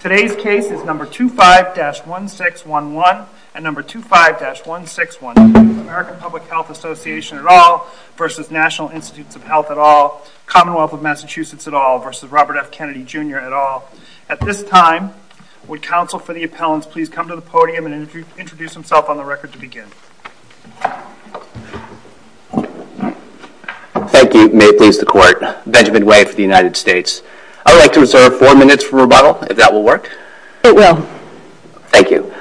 Today's case is number 25-1611 and number 25-1612. American Public Health Association at all versus National Institutes of Health at all, Commonwealth of Massachusetts at all versus Robert F. Kennedy, Jr. at all. At this time, would counsel for the appellants please come to the podium and introduce himself on the record to begin. Thank you. May it please the court. Benjamin White for the United States. I'd like to reserve four minutes for rebuttal. If that will work? It will. Thank you.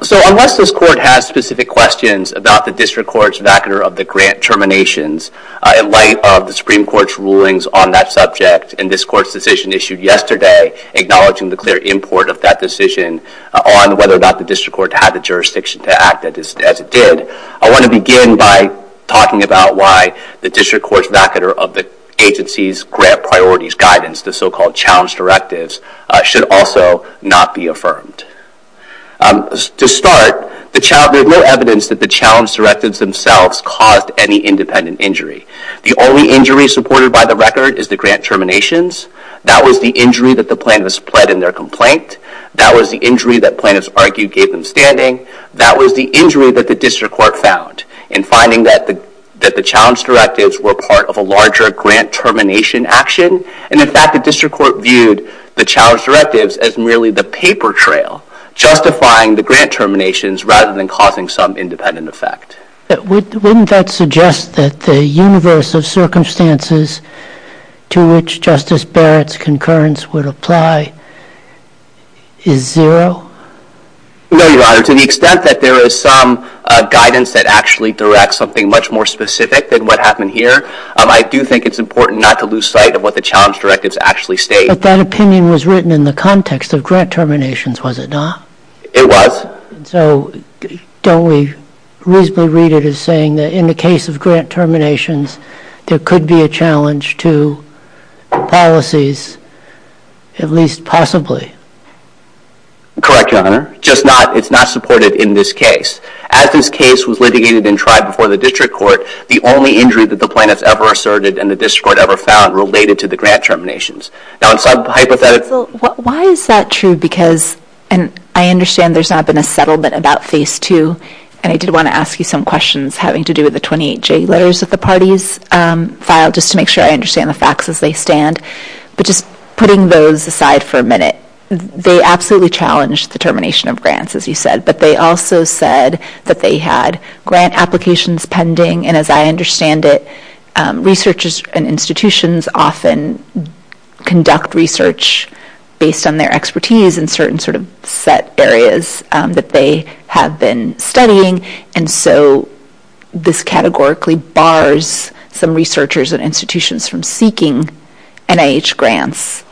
So unless this court has specific questions about the district court's vacunar of the grant terminations in light of the Supreme Court's rulings on that subject and this court's decision issued yesterday acknowledging the clear import of that decision on whether or not the district court had the jurisdiction to act as it did, I want to begin by talking about why the district court's vacunar of the agency's grant priorities guidance, the so-called challenge directives, should also not be affirmed. To start, there's no evidence that the challenge directives themselves caused any independent injury. The only injury supported by the record is the grant terminations. That was the injury that the plaintiffs pled in their complaint. That was the injury that plaintiffs argued gave them standing. That was the injury that the district court found in finding that the challenge directives were part of a larger grant termination action. And in fact, the district court viewed the challenge directives as merely the paper trail, justifying the grant terminations rather than causing some independent effect. But wouldn't that suggest that the universe of circumstances to which Justice Barrett's concurrence would apply is zero? No, Your Honor. To the extent that there is some guidance that actually directs something much more specific than what happened here, I do think it's important not to lose sight of what the challenge directives actually state. But that opinion was written in the context of grant terminations, was it not? It was. So don't we reasonably read it as saying that in the case of grant terminations, there could be a challenge to policies, at least possibly? Correct, Your Honor. Just not. It's not supported in this case. As this case was litigated and tried before the district court, the only injury that the plaintiffs ever asserted and the district court ever found related to the grant terminations. Now, it's a hypothetical. Why is that true? Because I understand there's not been a settlement about phase two, and I did want to ask you some questions having to do with the 28J letters that the parties filed, just to make sure I understand the facts as they stand. But just putting those aside for a minute, they absolutely challenged the termination of grants, as you said. But they also said that they had grant applications pending. And as I understand it, researchers and institutions often conduct research based on their expertise in certain set areas that they have been studying. And so this categorically bars some researchers and institutions from seeking NIH grants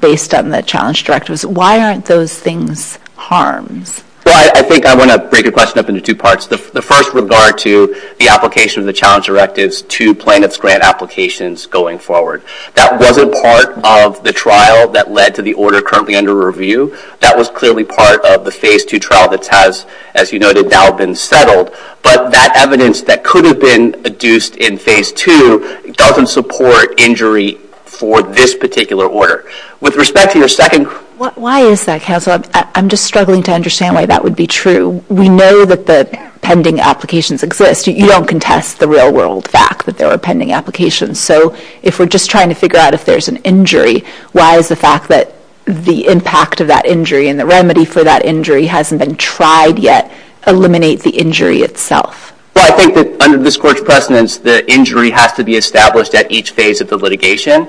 based on the challenge directives. Why aren't those things harms? Well, I think I want to break your question up into two parts. The first regard to the application of the challenge directives to plaintiff's grant applications going forward. That wasn't part of the trial that led to the order currently under review. That was clearly part of the phase two trial that has, as you noted, now been settled. But that evidence that could have been adduced in phase two doesn't support injury for this particular order. With respect to your second question. Why is that, counsel? I'm just struggling to understand why that would be true. We know that the pending applications exist. You don't contest the real world fact that there are pending applications. So if we're just trying to figure out if there's an injury, why is the fact that the impact of that injury and the remedy for that injury hasn't been tried yet eliminate the injury itself? Well, I think that under this court's precedence, the injury has to be established at each phase of the litigation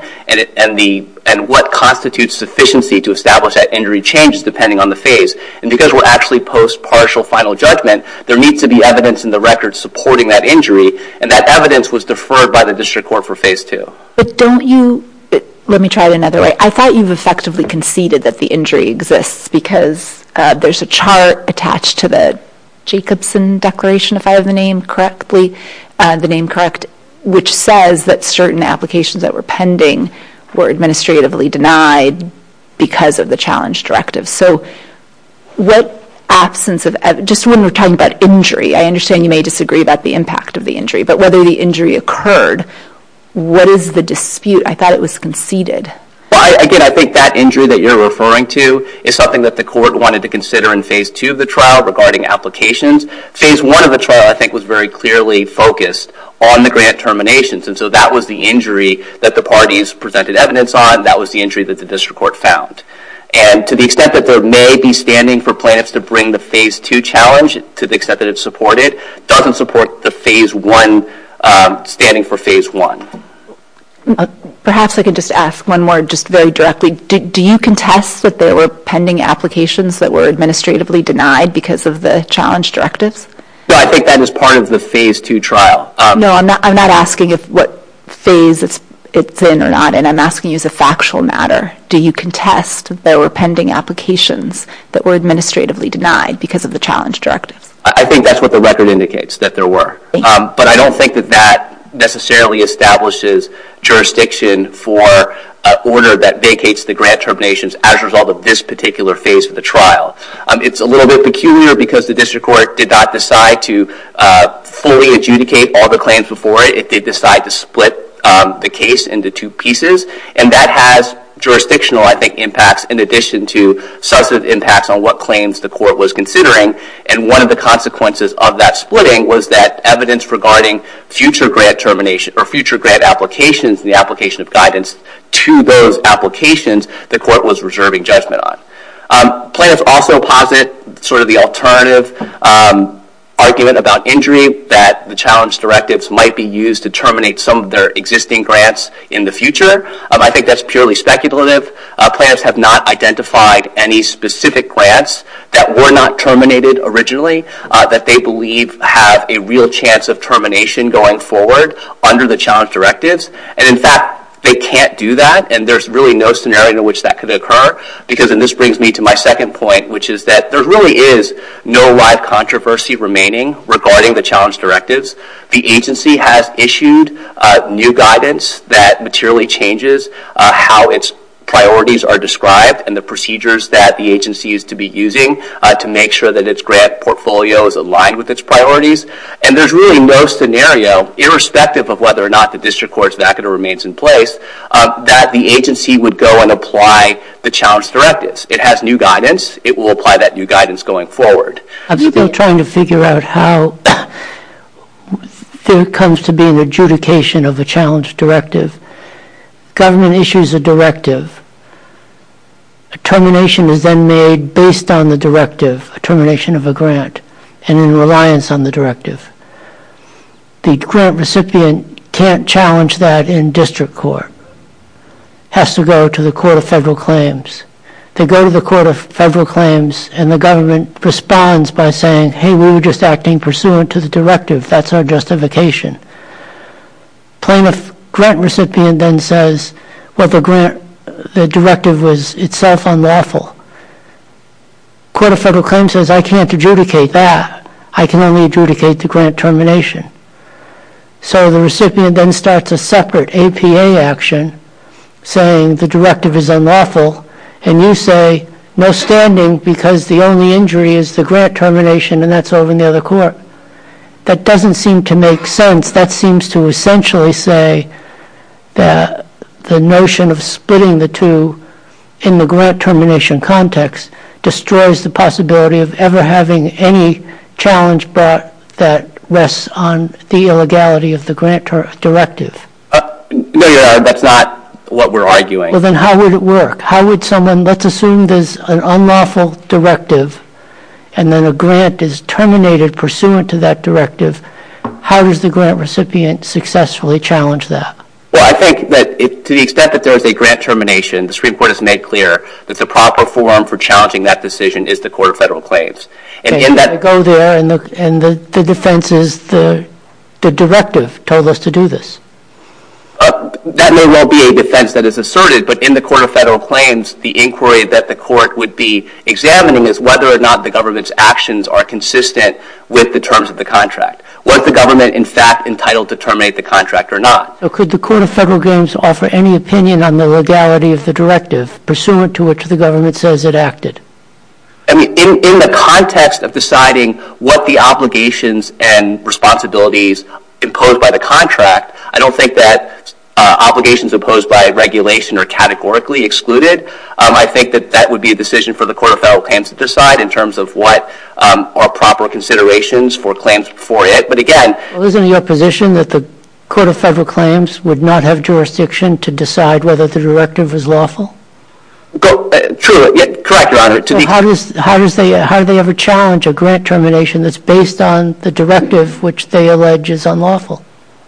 and what constitutes sufficiency to establish that injury changes depending on the phase. And because we're actually post-partial final judgment, there needs to be evidence in the record supporting that injury. And that evidence was deferred by the district court for phase two. But don't you, let me try it another way. I thought you've effectively conceded that the injury exists because there's a chart attached to the Jacobson Declaration, if I have the name correctly, the name correct, which says that certain applications that were pending were administratively denied because of the challenge directive. So what absence of, just when we're talking about injury, I understand you may disagree about the impact of the injury. But whether the injury occurred, what is the dispute? I thought it was conceded. Well, again, I think that injury that you're referring to is something that the court wanted to consider in phase two of the trial regarding applications. Phase one of the trial, I think, was very clearly focused on the grant terminations. And so that was the injury that the parties presented evidence on, that was the injury that the district court found. And to the extent that there may be standing for plaintiffs to bring the phase two challenge, to the extent that it's supported, doesn't support the phase one, standing for phase one. Perhaps I could just ask one more, just very directly. Do you contest that there were pending applications that were administratively denied because of the challenge directives? No, I think that is part of the phase two trial. No, I'm not asking if what phase it's in or not. And I'm asking you as a factual matter. Do you contest that there were pending applications that were administratively denied because of the challenge directives? I think that's what the record indicates, that there were. But I don't think that that necessarily establishes jurisdiction for an order that vacates the grant terminations as a result of this particular phase of the trial. It's a little bit peculiar because the district court did not decide to fully adjudicate all the claims before it. They decided to split the case into two pieces. And that has jurisdictional, I think, impacts in addition to substantive impacts on what claims the court was considering. And one of the consequences of that splitting was that evidence regarding future grant termination, or future grant applications in the application of guidance to those applications, the court was reserving judgment on. Plaintiffs also posit the alternative argument about injury, that the challenge directives might be used to terminate some of their existing grants in the future. I think that's purely speculative. Plaintiffs have not identified any specific grants that were not terminated originally that they believe have a real chance of termination going forward under the challenge directives. And in fact, they can't do that. And there's really no scenario in which that could occur. Because, and this brings me to my second point, which is that there really is no live controversy remaining regarding the challenge directives. The agency has issued new guidance that materially changes how its priorities are described and the procedures that the agency is to be using to make sure that its grant portfolio is aligned with its priorities. And there's really no scenario, irrespective of whether or not the district court's vacuna remains in place, that the agency would go and apply the challenge directives. It has new guidance. It will apply that new guidance going forward. I'm still trying to figure out how there comes to be an adjudication of a challenge directive. Government issues a directive. A termination is then made based on the directive, a termination of a grant, and in reliance on the directive. The grant recipient can't challenge that in district court. Has to go to the Court of Federal Claims. They go to the Court of Federal Claims, and the government responds by saying, hey, we were just acting pursuant to the directive. That's our justification. Plaintiff grant recipient then says, well, the directive was itself unlawful. Court of Federal Claims says, I can't adjudicate that. I can only adjudicate the grant termination. So the recipient then starts a separate APA action saying the directive is unlawful. And you say, no standing because the only injury is the grant termination, and that's over in the other court. That doesn't seem to make sense. That seems to essentially say that the notion of splitting the two in the grant termination context destroys the possibility of ever having any challenge brought that rests on the illegality of the grant directive. No, Your Honor, that's not what we're arguing. Well, then how would it work? Let's assume there's an unlawful directive, and then a grant is terminated pursuant to that directive. How does the grant recipient successfully challenge that? Well, I think that to the extent that there is a grant termination, the Supreme Court has made clear that the proper forum for challenging that decision is the Court of Federal Claims. And in that go there, and the defense is the directive told us to do this. That may well be a defense that is asserted, but in the Court of Federal Claims, the inquiry that the court would be examining is whether or not the government's actions are consistent with the terms of the contract. Was the government, in fact, entitled to terminate the contract or not? Could the Court of Federal Claims offer any opinion on the legality of the directive pursuant to which the government says it acted? I mean, in the context of deciding what the obligations and responsibilities imposed by the contract, I don't think that obligations imposed by regulation are categorically excluded. I think that that would be a decision for the Court of Federal Claims to decide in terms of what are proper considerations for claims before it. But again, Well, isn't it your position that the Court of Federal Claims would not have jurisdiction to decide whether the directive is lawful? True. Correct, Your Honor. How do they ever challenge a grant termination that's based on the directive which they allege is unlawful?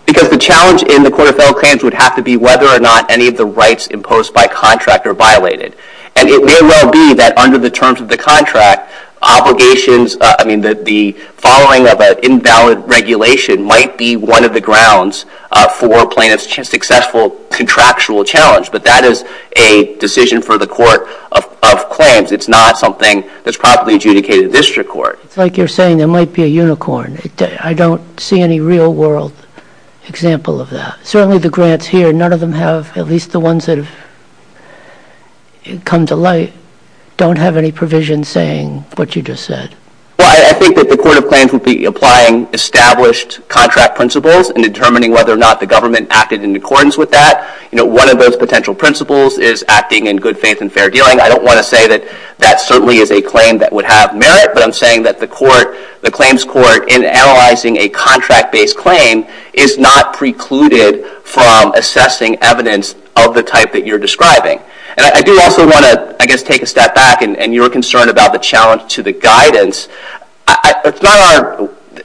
Because the challenge in the Court of Federal Claims would have to be whether or not any of the rights imposed by contract are violated. And it may well be that under the terms of the contract, obligations, I mean, the following of an invalid regulation might be one of the grounds for plaintiff's successful contractual challenge. But that is a decision for the Court of Claims. It's not something that's properly adjudicated in district court. It's like you're saying there might be a unicorn. I don't see any real world example of that. Certainly the grants here, none of them have, at least the ones that have come to light, don't have any provision saying what you just said. Well, I think that the Court of Claims would be applying established contract principles and determining whether or not the government acted in accordance with that. One of those potential principles is acting in good faith and fair dealing. I don't want to say that that certainly is a claim that would have merit. But I'm saying that the claims court, in analyzing a contract-based claim, is not precluded from assessing evidence of the type that you're describing. And I do also want to, I guess, take a step back. And your concern about the challenge to the guidance,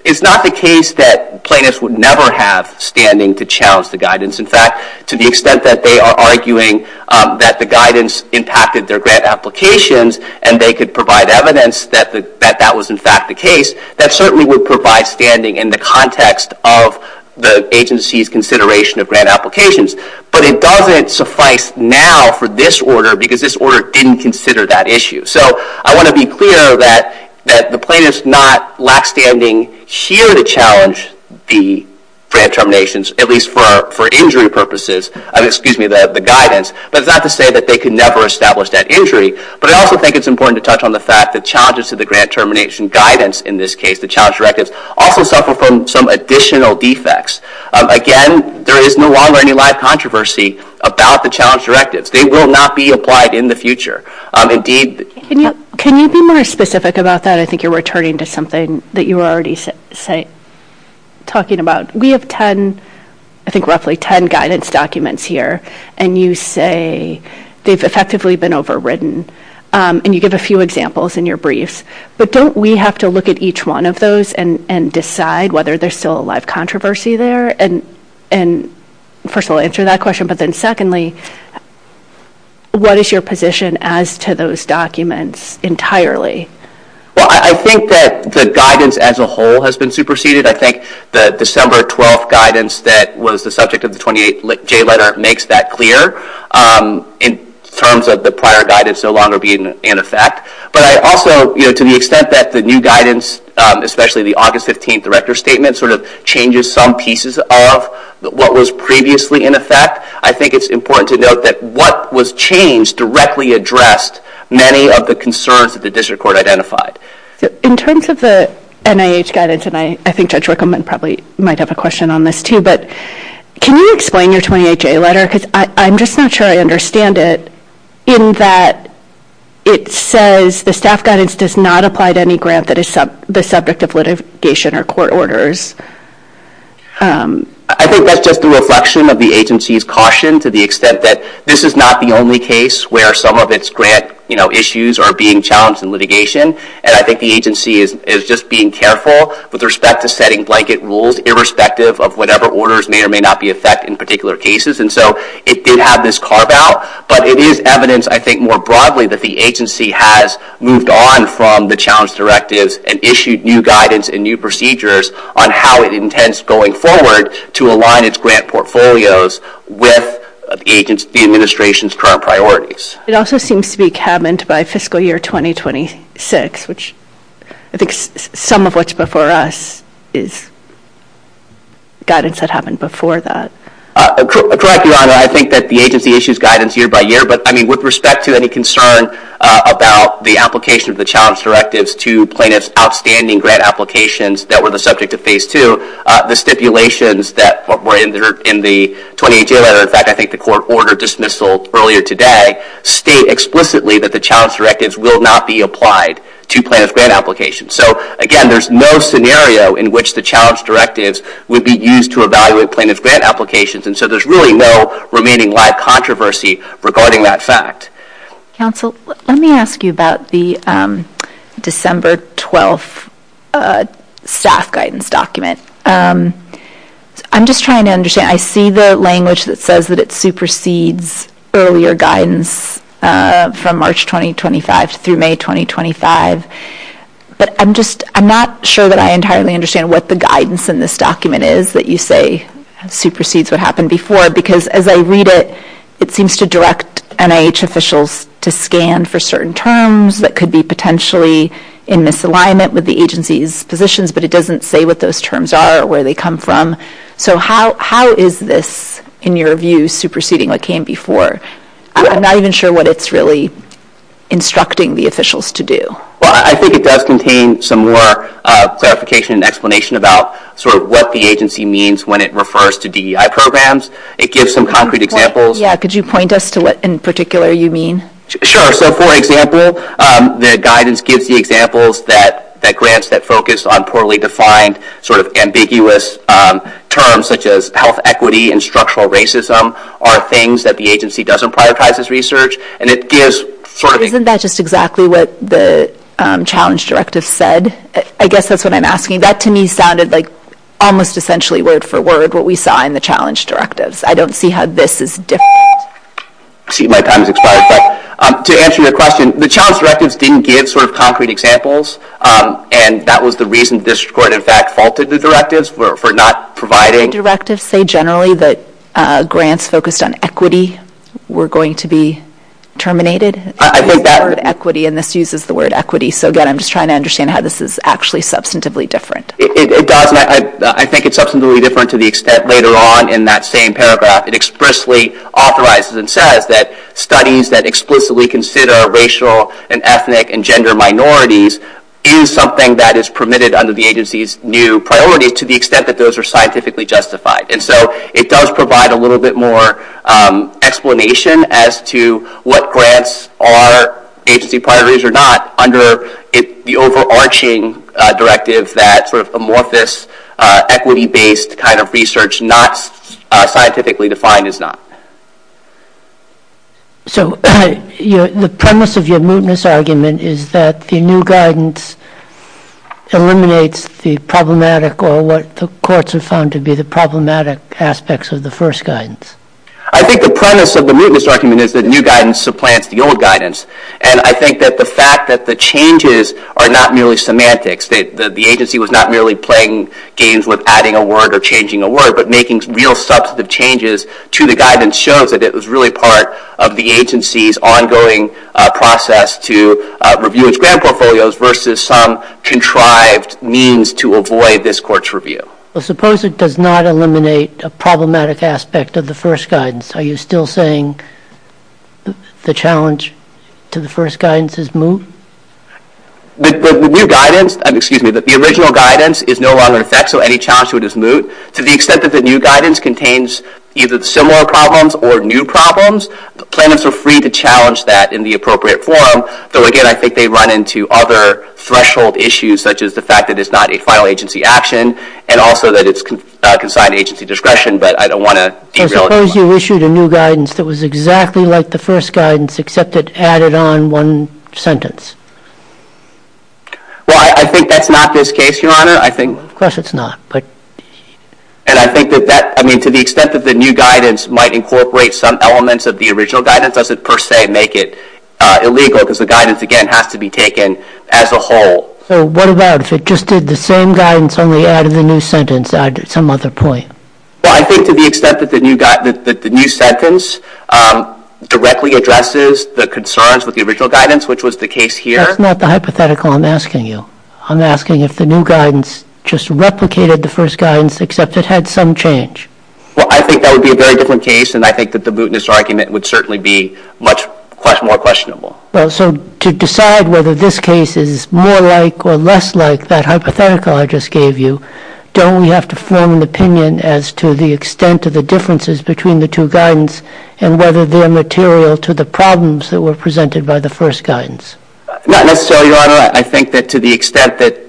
it's not the case that plaintiffs would never have standing to challenge the guidance. In fact, to the extent that they are arguing that the guidance impacted their grant applications and they could provide evidence that that was, in fact, the case, that certainly would provide standing in the context of the agency's consideration of grant applications. But it doesn't suffice now for this order because this order didn't consider that issue. So I want to be clear that the plaintiffs not lack standing here to challenge the grant terminations, at least for injury purposes, excuse me, the guidance. But it's not to say that they could never establish that injury. But I also think it's important to touch on the fact that challenges to the grant termination guidance, in this case, the challenge directives, also suffer from some additional defects. Again, there is no longer any live controversy about the challenge directives. They will not be applied in the future. Indeed, can you be more specific about that? I think you're returning to something that you were already talking about. We have 10, I think roughly 10, guidance documents here. And you say they've effectively been overridden. And you give a few examples in your briefs. But don't we have to look at each one of those and decide whether there's still a live controversy there? And first of all, answer that question. But then secondly, what is your position as to those documents entirely? Well, I think that the guidance as a whole has been superseded. I think the December 12th guidance that was the subject of the 28J letter makes that clear in terms of the prior guidance no longer being in effect. But I also, to the extent that the new guidance, especially the August 15th director statement, sort of changes some pieces of what was previously in effect, I think it's important to note that what was changed directly addressed many of the concerns that the district court identified. In terms of the NIH guidance, and I think Judge Rickleman probably might have a question on this too, but can you explain your 28J letter? Because I'm just not sure I understand it in that it says the staff guidance does not apply to any grant that is the subject of litigation or court orders. I think that's just a reflection of the agency's caution to the extent that this is not the only case where some of its grant issues are being challenged in litigation. And I think the agency is just being careful with respect to setting blanket rules irrespective of whatever orders may or may not be effect in particular cases. And so it did have this carve out. But it is evidence, I think more broadly, that the agency has moved on from the challenge directives and issued new guidance and new procedures on how it intends going forward to align its grant portfolios with the administration's current priorities. It also seems to be cabined by fiscal year 2026, which I think some of what's before us is guidance that happened before that. Correct, Your Honor. I think that the agency issues guidance year by year. But with respect to any concern about the application of the challenge directives to plaintiffs' outstanding grant applications that were the subject of phase two, the stipulations that were in the 28-J letter, in fact, I think the court ordered dismissal earlier today, state explicitly that the challenge directives will not be applied to plaintiffs' grant applications. So again, there's no scenario in which the challenge directives would be used to evaluate plaintiffs' grant applications. And so there's really no remaining live controversy regarding that fact. Counsel, let me ask you about the December 12th staff guidance document. I'm just trying to understand. I see the language that says that it supersedes earlier guidance from March 2025 through May 2025. But I'm just not sure that I entirely understand what the guidance in this document is that you say supersedes what happened before. Because as I read it, it seems to direct NIH officials to scan for certain terms that could be potentially in misalignment with the agency's positions. But it doesn't say what those terms are or where they come from. So how is this, in your view, superseding what came before? I'm not even sure what it's really instructing the officials to do. Well, I think it does contain some more clarification and explanation about what the agency means when it refers to DEI programs. It gives some concrete examples. Yeah. Could you point us to what in particular you mean? Sure. So for example, the guidance gives the examples that grants that focus on poorly defined, sort of ambiguous terms, such as health equity and structural racism, are things that the agency doesn't prioritize as research. And it gives sort of a- Isn't that just exactly what the challenge directive said? I guess that's what I'm asking. That, to me, sounded like almost essentially word for word what we saw in the challenge directives. I don't see how this is different. I see my time has expired. To answer your question, the challenge directives didn't give sort of concrete examples. And that was the reason the district court, in fact, faulted the directives for not providing- Do directives say generally that grants focused on equity were going to be terminated? I think that- The word equity, and this uses the word equity. So again, I'm just trying to understand how this is actually substantively different. It does. I think it's substantively different to the extent later on in that same paragraph. It expressly authorizes and says that studies that explicitly consider racial, and ethnic, and gender minorities is something that is permitted under the agency's new priorities to the extent that those are scientifically justified. And so it does provide a little bit more explanation as to what grants are agency priorities or not under the overarching directive that sort of amorphous equity-based kind of research not scientifically defined is not. So the premise of your mootness argument is that the new guidance eliminates the problematic or what the courts have found to be the problematic aspects of the first guidance. I think the premise of the mootness argument is that new guidance supplants the old guidance. And I think that the fact that the changes are not merely semantics, that the agency was not merely playing games with adding a word or changing a word, but making real substantive changes to the guidance shows that it was really part of the agency's ongoing process to review its grant portfolios versus some contrived means to avoid this court's review. Well, suppose it does not eliminate a problematic aspect of the first guidance. Are you still saying the challenge to the first guidance is moot? The new guidance, excuse me, the original guidance is no longer in effect. So any challenge to it is moot. To the extent that the new guidance contains either similar problems or new problems, plaintiffs are free to challenge that in the appropriate form. Though again, I think they run into other threshold issues, such as the fact that it's not a final agency action and also that it's consigned to agency discretion. But I don't want to derail it. So suppose you issued a new guidance that was exactly like the first guidance, except it added on one sentence. Well, I think that's not this case, Your Honor. Of course it's not. And I think that to the extent that the new guidance might incorporate some elements of the original guidance doesn't per se make it illegal, because the guidance, again, has to be taken as a whole. So what about if it just did the same guidance, only added the new sentence, added some other point? Well, I think to the extent that the new sentence directly addresses the concerns with the original guidance, which was the case here. That's not the hypothetical I'm asking you. I'm asking if the new guidance just replicated the first guidance, except it had some change. Well, I think that would be a very different case. And I think that the mootness argument would certainly be much more questionable. Well, so to decide whether this case is more like or less like that hypothetical I just gave you, don't we have to form an opinion as to the extent of the differences between the two guidance and whether they are material to the problems that were presented by the first guidance? Not necessarily, Your Honor. I think that to the extent that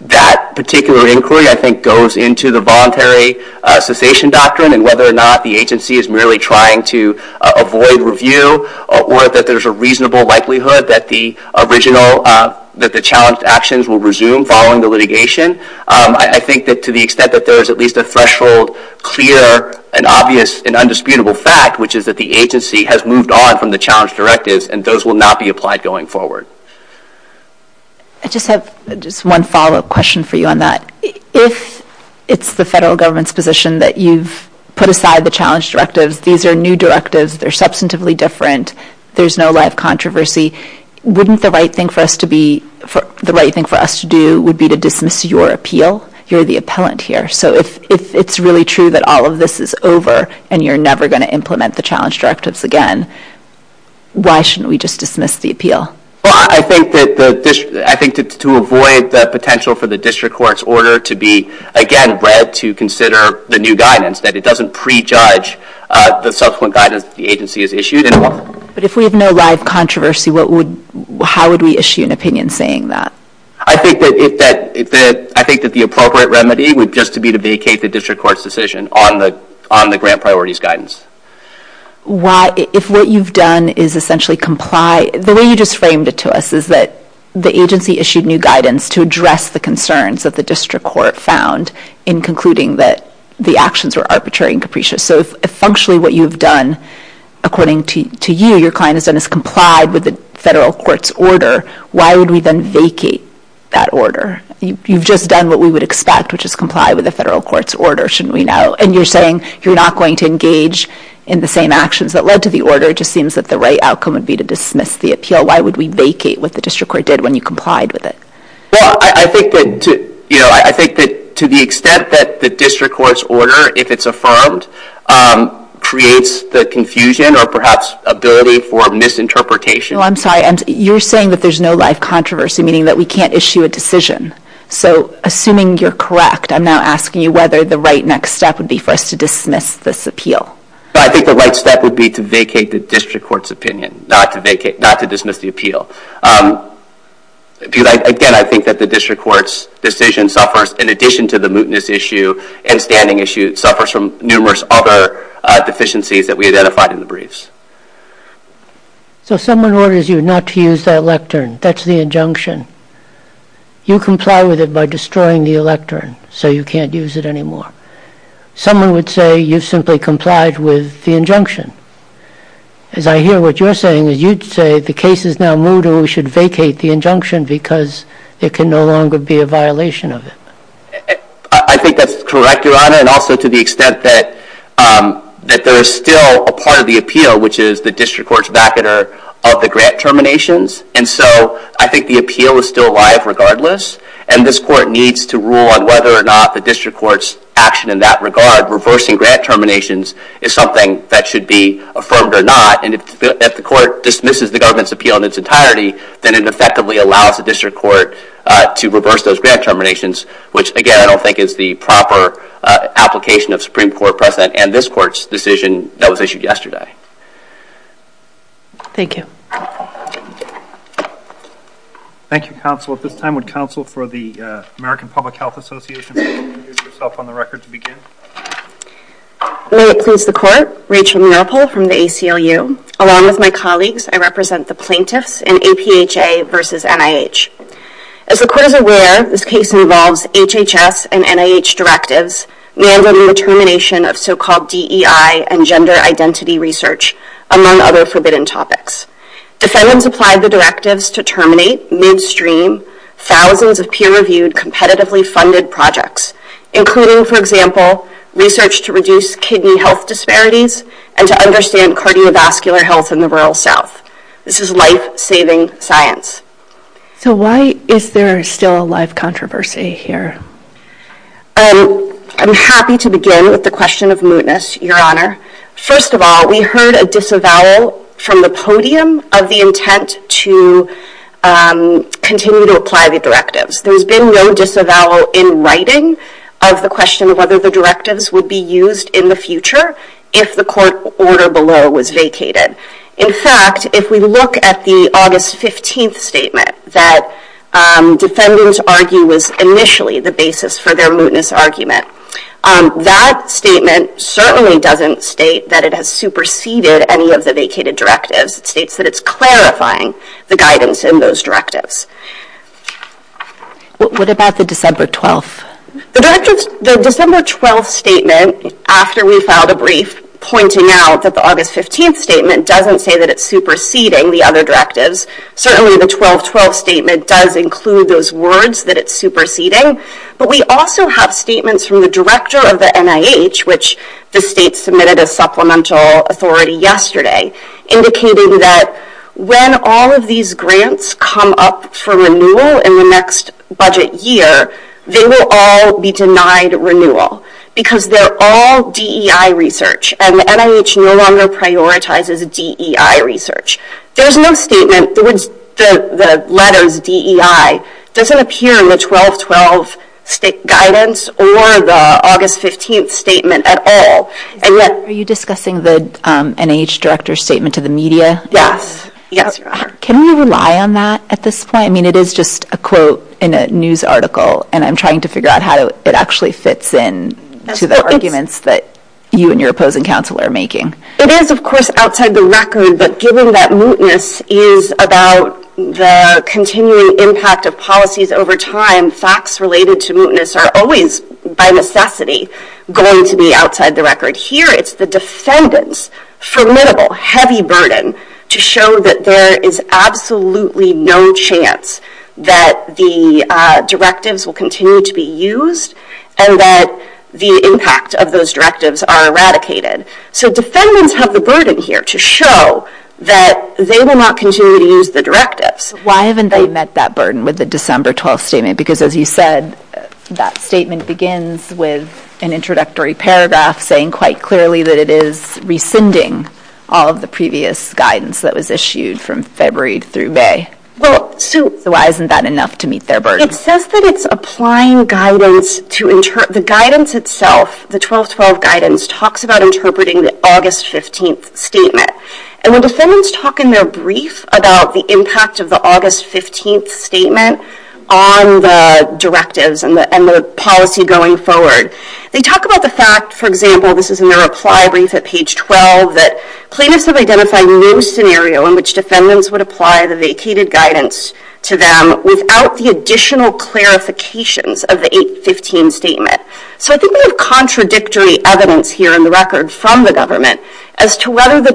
that particular inquiry, I think, goes into the voluntary cessation doctrine and whether or not the agency is merely trying to avoid review or that there's a reasonable likelihood that the original, that the challenged actions will resume following the litigation. I think that to the extent that there is at least a threshold, clear, and obvious, and undisputable fact, which is that the agency has moved on from the challenge directives, and those will not be applied going forward. I just have just one follow-up question for you on that. If it's the federal government's position that you've put aside the challenge directives, these are new directives. They're substantively different. There's no live controversy. Wouldn't the right thing for us to do would be to dismiss your appeal? You're the appellant here. So if it's really true that all of this is over and you're never going to implement the challenge directives again, why shouldn't we just dismiss the appeal? Well, I think that to avoid the potential for the district court's order to be, again, read to consider the new guidance, that it doesn't prejudge the subsequent guidance that the agency has issued. But if we have no live controversy, how would we issue an opinion saying that? I think that the appropriate remedy would just to be to vacate the district court's decision on the grant priorities guidance. If what you've done is essentially comply, the way you just framed it to us is that the agency issued new guidance to address the concerns that the district court found in concluding that the actions were arbitrary and capricious. So if functionally what you've done, according to you, your client has done is complied with the federal court's order, why would we then vacate that order? You've just done what we would expect, which is comply with the federal court's order, shouldn't we know? And you're saying you're not going to engage in the same actions that led to the order. It just seems that the right outcome would be to dismiss the appeal. Why would we vacate what the district court did when you complied with it? Well, I think that to the extent that the district court's order, if it's affirmed, creates the confusion or perhaps ability for misinterpretation. No, I'm sorry, you're saying that there's no live controversy, meaning that we can't issue a decision. So assuming you're correct, I'm now asking you whether the right next step would be for us to dismiss this appeal. I think the right step would be to vacate the district court's opinion, not to dismiss the appeal. Again, I think that the district court's decision suffers, in addition to the mootness issue and standing issue, suffers from numerous other deficiencies that we identified in the briefs. So if someone orders you not to use that lectern, that's the injunction. You comply with it by destroying the lectern, so you can't use it anymore. Someone would say you simply complied with the injunction. As I hear what you're saying, you'd say the case is now moot, or we should vacate the injunction because it can no longer be a violation of it. I think that's correct, Your Honor, and also to the extent that there is still a part of the appeal, which is the district court's vacater of the grant terminations. And so I think the appeal is still alive regardless, and this court needs to rule on whether or not the district court's action in that regard, reversing grant terminations, is something that should be affirmed or not. And if the court dismisses the government's appeal in its entirety, then it effectively allows the district court to reverse those grant terminations, which, again, I don't think is the proper application of Supreme Court precedent and this court's decision that was issued yesterday. Thank you. Thank you, counsel. At this time, would counsel for the American Public Health Association please introduce yourself on the record to begin? May it please the court. Rachel Marple from the ACLU. Along with my colleagues, I represent the plaintiffs in APHA versus NIH. As the court is aware, this case involves HHS and NIH directives mandating the termination of so-called DEI and gender identity research, among other forbidden topics. Defendants applied the directives to terminate midstream, thousands of peer-reviewed, competitively funded projects, including, for example, research to reduce kidney health disparities and to understand cardiovascular health in the rural South. This is life-saving science. So why is there still a life controversy here? I'm happy to begin with the question of mootness, Your Honor. First of all, we heard a disavowal from the podium of the intent to continue to apply the directives. There has been no disavowal in writing of the question of whether the directives would be used in the future if the court order below was vacated. In fact, if we look at the August 15th statement that defendants argue was initially the basis for their mootness argument, that statement certainly doesn't state that it has superseded any of the vacated directives. It states that it's clarifying the guidance in those directives. What about the December 12th? The December 12th statement, after we filed a brief pointing out that the August 15th statement doesn't say that it's superseding the other directives, certainly the 12-12 statement does include those words that it's superseding, but we also have statements from the director of the NIH, which the state submitted a supplemental authority yesterday, indicating that when all of these grants come up for renewal in the next budget year, they will all be denied renewal because they're all DEI research and the NIH no longer prioritizes DEI research. There's no statement, the letters DEI, doesn't appear in the 12-12 state guidance or the August 15th statement at all. Are you discussing the NIH director's statement to the media? Yes, yes. Can we rely on that at this point? I mean, it is just a quote in a news article and I'm trying to figure out how it actually fits in to the arguments that you and your opposing counsel are making. It is, of course, outside the record, but given that mootness is about the continuing impact of policies over time, facts related to mootness are always, by necessity, going to be outside the record. Here, it's the defendant's formidable, heavy burden to show that there is absolutely no chance that the directives will continue to be used and that the impact of those directives are eradicated. So defendants have the burden here to show that they will not continue to use the directives. Why haven't they met that burden with the December 12th statement? Because as you said, that statement begins with an introductory paragraph saying quite clearly that it is rescinding all of the previous guidance that was issued from February through May. Well, so- So why isn't that enough to meet their burden? It says that it's applying guidance to, the guidance itself, the 12-12 guidance, talks about interpreting the August 15th statement. And when defendants talk in their brief about the impact of the August 15th statement on the directives and the policy going forward, they talk about the fact, for example, this is in their reply brief at page 12, that plaintiffs have identified no scenario in which defendants would apply the vacated guidance to them without the additional clarifications of the 8-15 statement. So I think we have contradictory evidence here in the record from the government as to whether the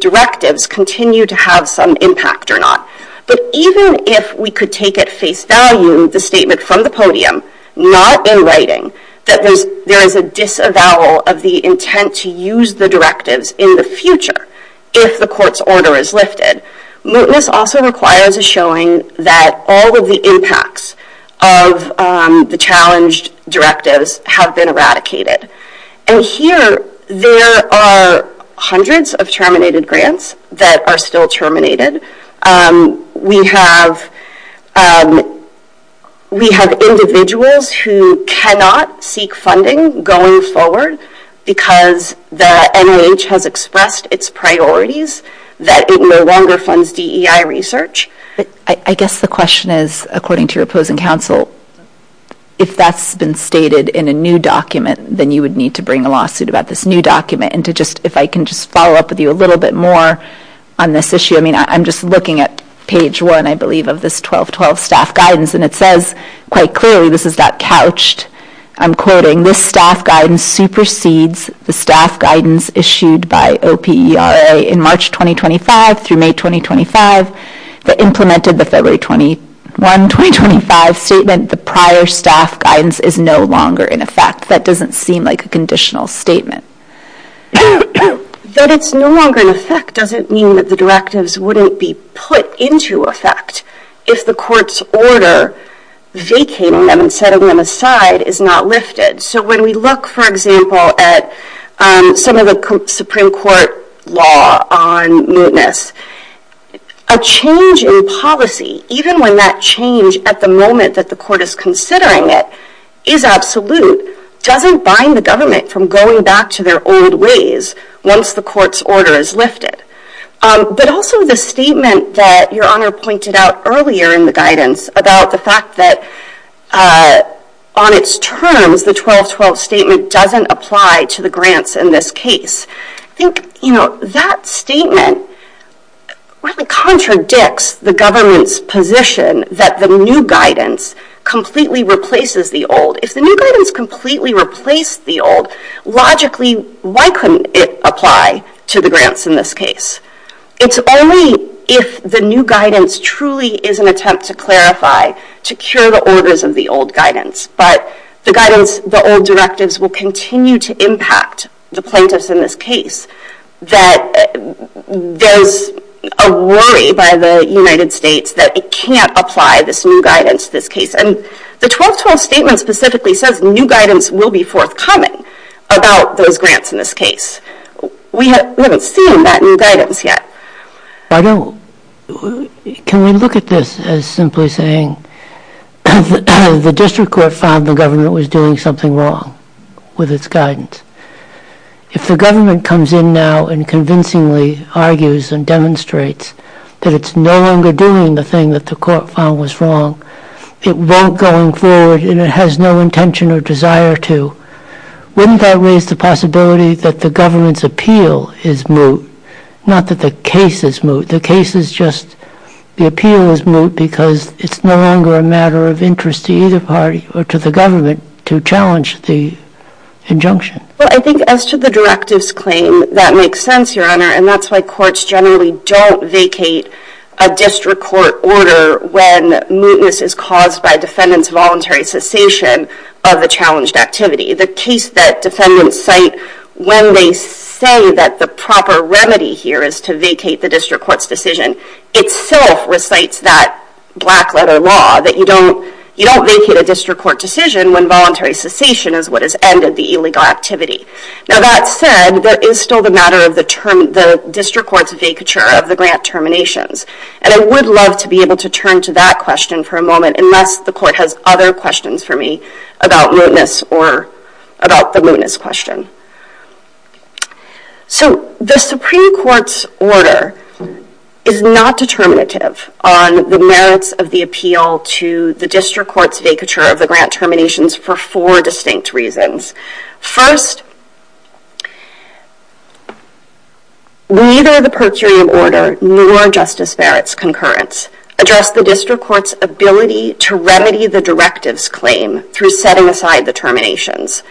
directives continue to have some impact or not. But even if we could take at face value the statement from the podium, not in writing, that there is a disavowal of the intent to use the directives in the future if the court's order is lifted, mootness also requires a showing that all of the impacts of the challenged directives have been eradicated. And here, there are hundreds of terminated grants that are still terminated. We have individuals who cannot seek funding going forward because the NIH has expressed its priorities that it no longer funds DEI research. I guess the question is, according to your opposing counsel, if that's been stated in a new document, then you would need to bring a lawsuit about this new document. And to just, if I can just follow up with you a little bit more on this issue. I mean, I'm just looking at page one, I believe, of this 12-12 staff guidance, and it says quite clearly, this is not couched. I'm quoting, this staff guidance supersedes the staff guidance issued by OPERA in March 2025 through May 2025. That implemented the February 21, 2025 statement, the prior staff guidance is no longer in effect. That doesn't seem like a conditional statement. That it's no longer in effect doesn't mean that the directives wouldn't be put into effect if the court's order vacating them and setting them aside is not lifted. So when we look, for example, at some of the Supreme Court law on mootness, a change in policy, even when that change at the moment that the court is considering it is absolute, doesn't bind the government from going back to their old ways once the court's order is lifted. But also the statement that your honor pointed out earlier in the guidance about the fact that on its terms, the 12-12 statement doesn't apply to the grants in this case. I think that statement really contradicts the government's position that the new guidance completely replaces the old. If the new guidance completely replaced the old, logically, why couldn't it apply to the grants in this case? It's only if the new guidance truly is an attempt to clarify, to cure the orders of the old guidance, but the guidance, the old directives will continue to impact the plaintiffs in this case, that there's a worry by the United States that it can't apply this new guidance to this case. And the 12-12 statement specifically says new guidance will be forthcoming about those grants in this case. We haven't seen that new guidance yet. I don't, can we look at this as simply saying the district court found the government was doing something wrong with its guidance. If the government comes in now and convincingly argues and demonstrates that it's no longer doing the thing that the court found was wrong, it won't going forward and it has no intention or desire to, wouldn't that raise the possibility that the government's appeal is moot? Not that the case is moot, the case is just, the appeal is moot because it's no longer a matter of interest to either party or to the government to challenge the injunction. Well, I think as to the directives claim, that makes sense, Your Honor, and that's why courts generally don't vacate a district court order when mootness is caused by defendant's voluntary cessation of the challenged activity. The case that defendants cite when they say that the proper remedy here is to vacate the district court's decision, itself recites that black letter law that you don't vacate a district court decision when voluntary cessation is what has ended the illegal activity. Now that said, that is still the matter of the district court's vacature of the grant terminations. And I would love to be able to turn to that question for a moment unless the court has other questions for me about mootness or about the mootness question. So the Supreme Court's order is not determinative on the merits of the appeal to the district court's vacature of the grant terminations for four distinct reasons. First, neither the per curiam order nor Justice Barrett's concurrence address the district court's ability to remedy the directives claim through setting aside the terminations.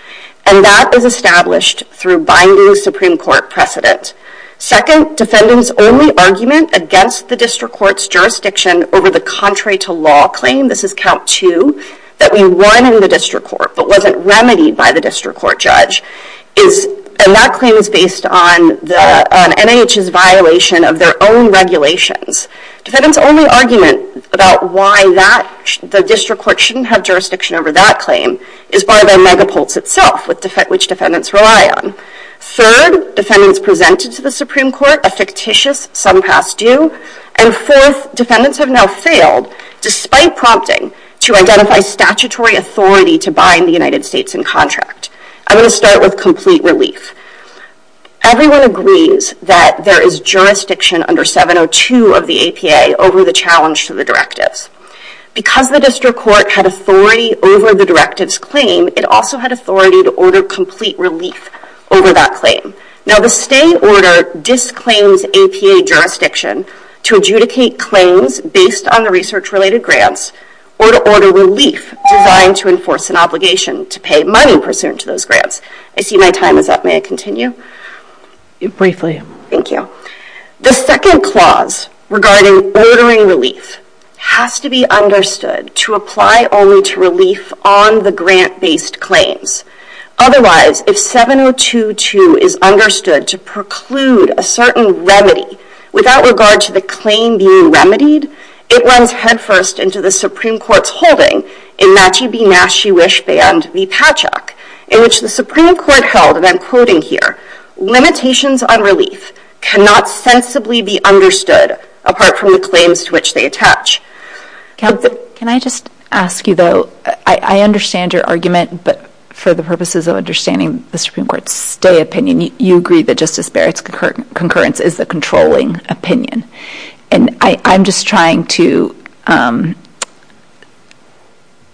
And that is established through binding Supreme Court precedent. Second, defendant's only argument against the district court's jurisdiction over the contrary to law claim, this is count two, that we won in the district court but wasn't remedied by the district court judge is, and that claim is based on NIH's violation of their own regulations. Defendant's only argument about why that, the district court shouldn't have jurisdiction over that claim is by the megapulse itself which defendants rely on. Third, defendants presented to the Supreme Court a fictitious some pass due. And fourth, defendants have now failed despite prompting to identify statutory authority to bind the United States in contract. I'm gonna start with complete relief. Everyone agrees that there is jurisdiction under 702 of the APA over the challenge to the directives. Because the district court had authority over the directives claim, it also had authority to order complete relief over that claim. Now the stay order disclaims APA jurisdiction to adjudicate claims based on the research related grants or to order relief designed to enforce an obligation to pay money pursuant to those grants. I see my time is up, may I continue? Briefly. Thank you. The second clause regarding ordering relief has to be understood to apply only to relief on the grant based claims. Otherwise, if 702-2 is understood to preclude a certain remedy without regard to the claim being remedied, it runs headfirst into the Supreme Court's holding in Machi Benashewish Band v. Patchak, in which the Supreme Court held, and I'm quoting here, limitations on relief cannot sensibly be understood apart from the claims to which they attach. Can I just ask you though, I understand your argument, but for the purposes of understanding the Supreme Court's stay opinion, you agree that Justice Barrett's concurrence is the controlling opinion. And I'm just trying to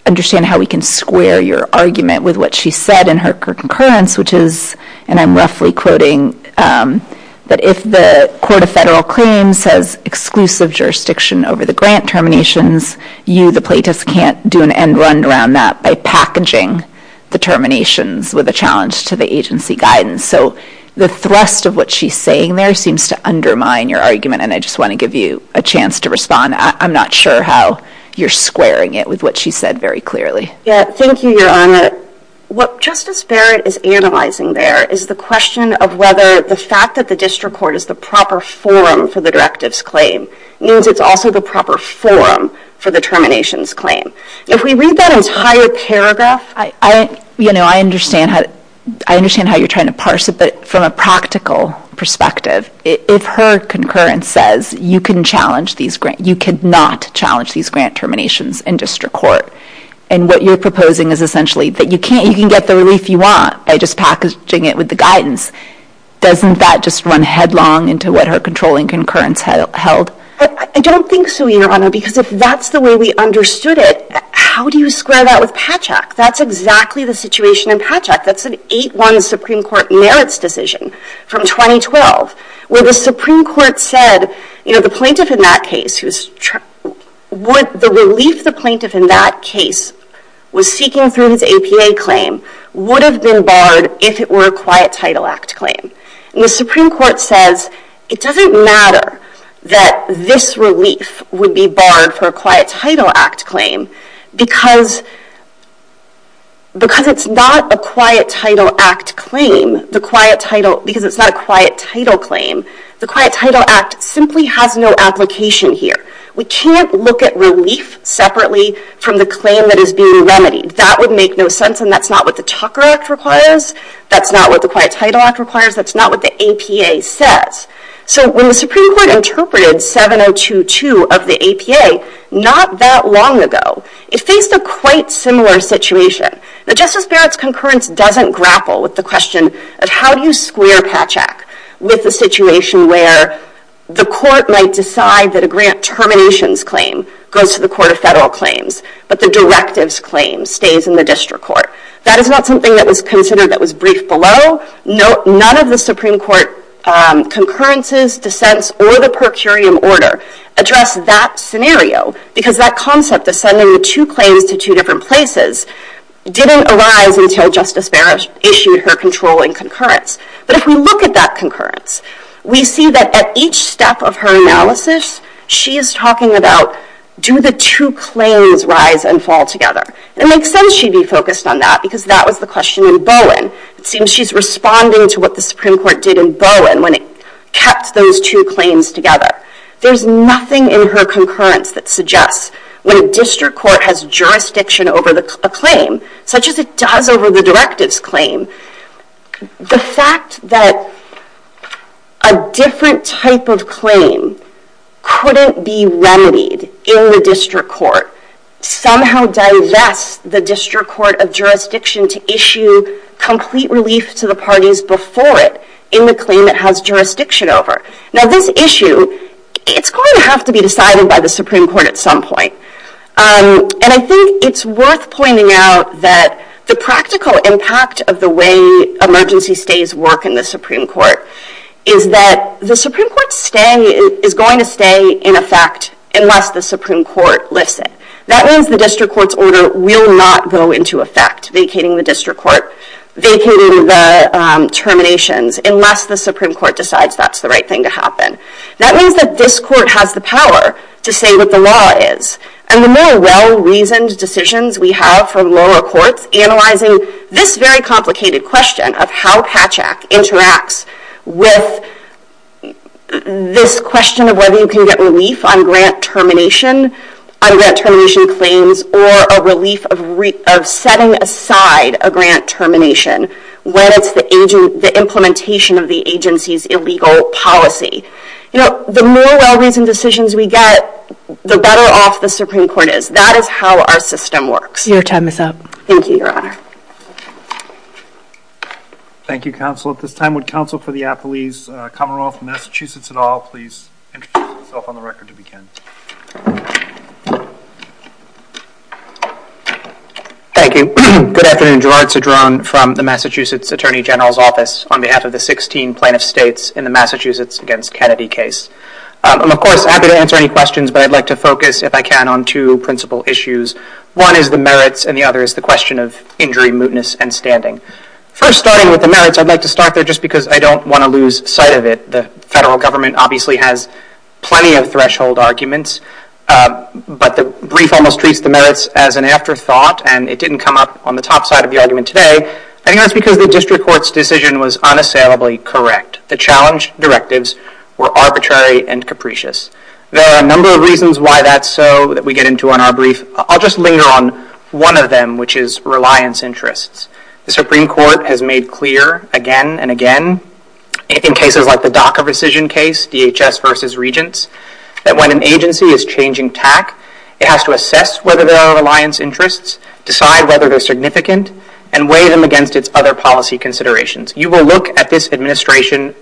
understand how we can square your argument with what she said in her concurrence, which is, and I'm roughly quoting, that if the Court of Federal Claims has exclusive jurisdiction over the grant terminations, you, the plaintiffs, can't do an end round around that by packaging the terminations with a challenge to the agency guidance. So the thrust of what she's saying there seems to undermine your argument, and I just want to give you a chance to respond. I'm not sure how you're squaring it with what she said very clearly. Yeah, thank you, Your Honor. What Justice Barrett is analyzing there is the question of whether the fact that the district court is the proper forum for the directive's claim means it's also the proper forum for the termination's claim. If we read that as higher paragraph, I understand how you're trying to parse it, but from a practical perspective, if her concurrence says you can challenge these grant, you cannot challenge these grant terminations in district court, and what you're proposing is essentially that you can get the relief you want by just packaging it with the guidance, doesn't that just run headlong into what her controlling concurrence held? I don't think so, Your Honor, because if that's the way we understood it, how do you square that with Patch Act? That's exactly the situation in Patch Act, that's an 8-1 Supreme Court merits decision from 2012, where the Supreme Court said, the plaintiff in that case, the relief the plaintiff in that case was seeking through his APA claim would have been barred if it were a Quiet Title Act claim, and the Supreme Court says it doesn't matter that this relief would be barred for a Quiet Title Act claim, because it's not a Quiet Title Act claim, because it's not a Quiet Title claim, the Quiet Title Act simply has no application here, we can't look at relief separately from the claim that is being remedied, that would make no sense, and that's not what the Tucker Act requires, that's not what the Quiet Title Act requires, that's not what the APA says, so when the Supreme Court interpreted 7022 of the APA, not that long ago, it faced a quite similar situation, the Justice Barrett's concurrence doesn't grapple with the question of how do you square Patch Act with the situation where the court might decide that a grant terminations claim goes to the Court of Federal Claims, but the directives claim stays in the District Court, that is not something that was considered that was briefed below, none of the Supreme Court concurrences, dissents, or the per curiam order address that scenario, because that concept of sending the two claims to two different places didn't arise until Justice Barrett issued her controlling concurrence, but if we look at that concurrence, we see that at each step of her analysis, she is talking about do the two claims rise and fall together, it makes sense she'd be focused on that, because that was the question in Bowen, it seems she's responding to what the Supreme Court did in Bowen when it kept those two claims together, there's nothing in her concurrence that suggests when a District Court has jurisdiction over a claim, such as it does over the directives claim, the fact that a different type of claim couldn't be remedied in the District Court, somehow divest the District Court of Jurisdiction to issue complete relief to the parties before it in the claim it has jurisdiction over, now this issue, it's going to have to be decided by the Supreme Court at some point, and I think it's worth pointing out that the practical impact of the way emergency stays work in the Supreme Court, is that the Supreme Court is going to stay in effect unless the Supreme Court lifts it, that means the District Court's order will not go into effect, vacating the District Court, vacating the terminations, unless the Supreme Court decides that's the right thing to happen, that means that this court has the power to say what the law is, and the more well-reasoned decisions we have from lower courts analyzing this very complicated question of how Patchak interacts with this question of whether you can get relief on grant termination, on grant termination claims, or a relief of setting aside a grant termination when it's the implementation of the agency's illegal policy. You know, the more well-reasoned decisions we get, the better off the Supreme Court is, that is how our system works. Your time is up. Thank you, Your Honor. Thank you, Counsel. At this time, would Counsel for the Appalese, Commonwealth of Massachusetts et al, please introduce yourself on the record to begin. Thank you. Thank you. Good afternoon, Gerard Cedrone from the Massachusetts Attorney General's Office on behalf of the 16 plaintiff states in the Massachusetts against Kennedy case. I'm, of course, happy to answer any questions, but I'd like to focus, if I can, on two principal issues. One is the merits, and the other is the question of injury, mootness, and standing. First, starting with the merits, I'd like to start there just because I don't want to lose sight of it. The federal government obviously has plenty of threshold arguments, but the brief almost treats the merits as an afterthought, and it didn't come up on the top side of the argument today. I think that's because the district court's decision was unassailably correct. The challenge directives were arbitrary and capricious. There are a number of reasons why that's so that we get into on our brief. I'll just linger on one of them, which is reliance interests. The Supreme Court has made clear again and again in cases like the DACA decision case, DHS versus Regents, that when an agency is changing TAC, it has to assess whether there are reliance interests, decide whether they're significant, and weigh them against its other policy considerations. You will look at this administrative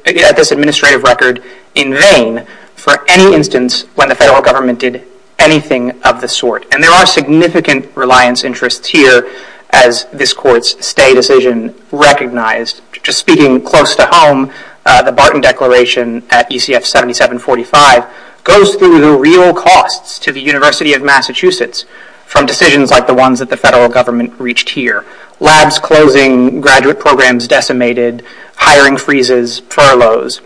record in vain for any instance when the federal government did anything of the sort. And there are significant reliance interests here as this court's stay decision recognized. Just speaking close to home, the Barton Declaration at ECF 7745 goes through the real costs to the University of Massachusetts from decisions like the ones that the federal government reached here. Labs closing, graduate programs decimated, hiring freezes, furloughs.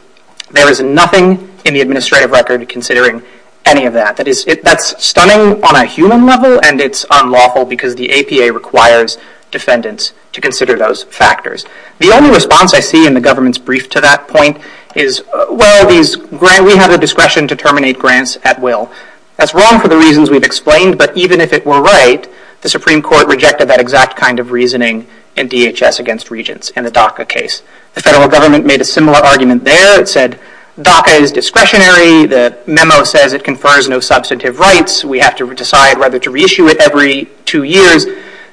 There is nothing in the administrative record considering any of that. That's stunning on a human level, and it's unlawful because the APA requires defendants to consider those factors. The only response I see in the government's brief to that point is, well, we have the discretion to terminate grants at will. That's wrong for the reasons we've explained, but even if it were right, the Supreme Court rejected that exact kind of reasoning in DHS against Regents and the DACA case. The federal government made a similar argument there. It said DACA is discretionary. The memo says it confers no substantive rights. We have to decide whether to reissue it every two years.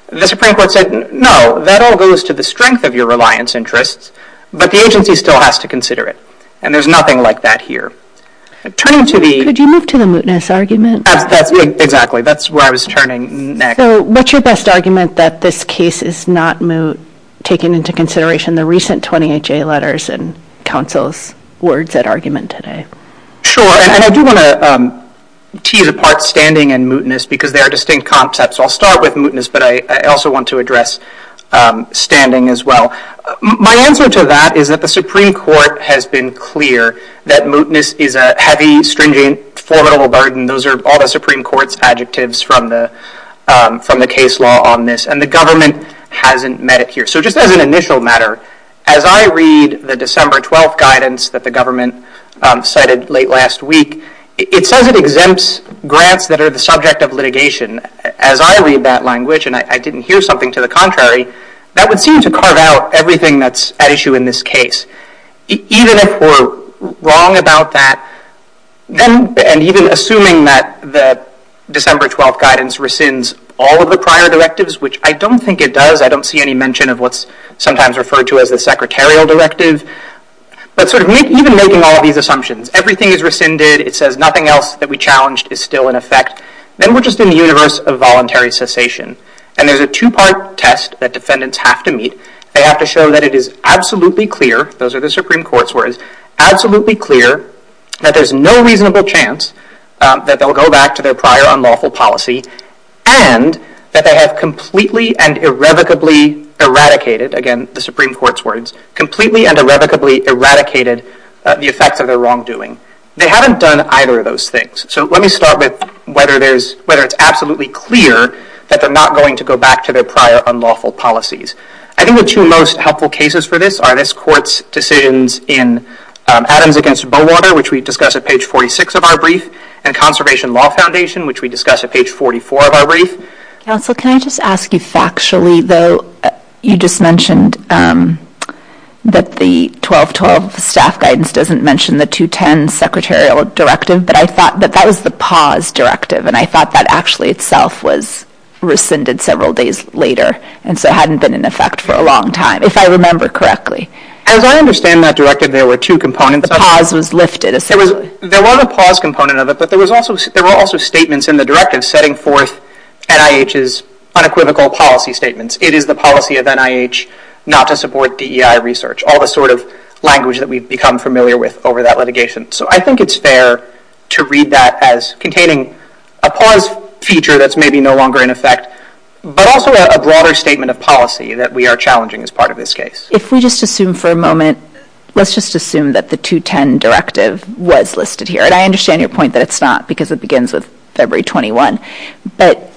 The Supreme Court said, no, that all goes to the strength of your reliance interests, but the agency still has to consider it, and there's nothing like that here. Turning to the... Could you move to the mootness argument? Exactly, that's where I was turning next. So what's your best argument that this case is not taken into consideration, the recent 20HA letters and counsel's words at argument today? Sure, and I do wanna tease apart standing and mootness because they are distinct concepts. I'll start with mootness, but I also want to address standing as well. My answer to that is that the Supreme Court has been clear that mootness is a heavy, stringent, formidable burden. Those are all the Supreme Court's adjectives from the case law on this, and the government hasn't met it here. So just as an initial matter, as I read the December 12th guidance that the government cited late last week, it says it exempts grants that are the subject of litigation. As I read that language, and I didn't hear something to the contrary, that would seem to carve out everything that's at issue in this case. Even if we're wrong about that, then, and even assuming that the December 12th guidance rescinds all of the prior directives, which I don't think it does. I don't see any mention of what's sometimes referred to as the secretarial directive, but sort of even making all of these assumptions, everything is rescinded. It says nothing else that we challenged is still in effect. Then we're just in the universe of voluntary cessation, and there's a two-part test that defendants have to meet. They have to show that it is absolutely clear, those are the Supreme Court's words, absolutely clear that there's no reasonable chance that they'll go back to their prior unlawful policy, and that they have completely and irrevocably eradicated, again, the Supreme Court's words, completely and irrevocably eradicated the effects of their wrongdoing. They haven't done either of those things. So let me start with whether it's absolutely clear that they're not going to go back to their prior unlawful policies. I think the two most helpful cases for this are this court's decisions in Adams against Bowater, which we discussed at page 46 of our brief, and Conservation Law Foundation, which we discussed at page 44 of our brief. Council, can I just ask you factually though, you just mentioned that the 1212 staff guidance doesn't mention the 210 secretarial directive, but I thought that that was the pause directive, and I thought that actually itself was rescinded several days later, and so hadn't been in effect for a long time, if I remember correctly. As I understand that directive, there were two components. The pause was lifted, essentially. There was a pause component of it, but there were also statements in the directive setting forth NIH's unequivocal policy statements. It is the policy of NIH not to support DEI research, all the sort of language that we've become familiar with over that litigation. So I think it's fair to read that as containing a pause feature that's maybe no longer in effect, but also a broader statement of policy that we are challenging as part of this case. If we just assume for a moment, let's just assume that the 210 directive was listed here, and I understand your point that it's not, because it begins with February 21, but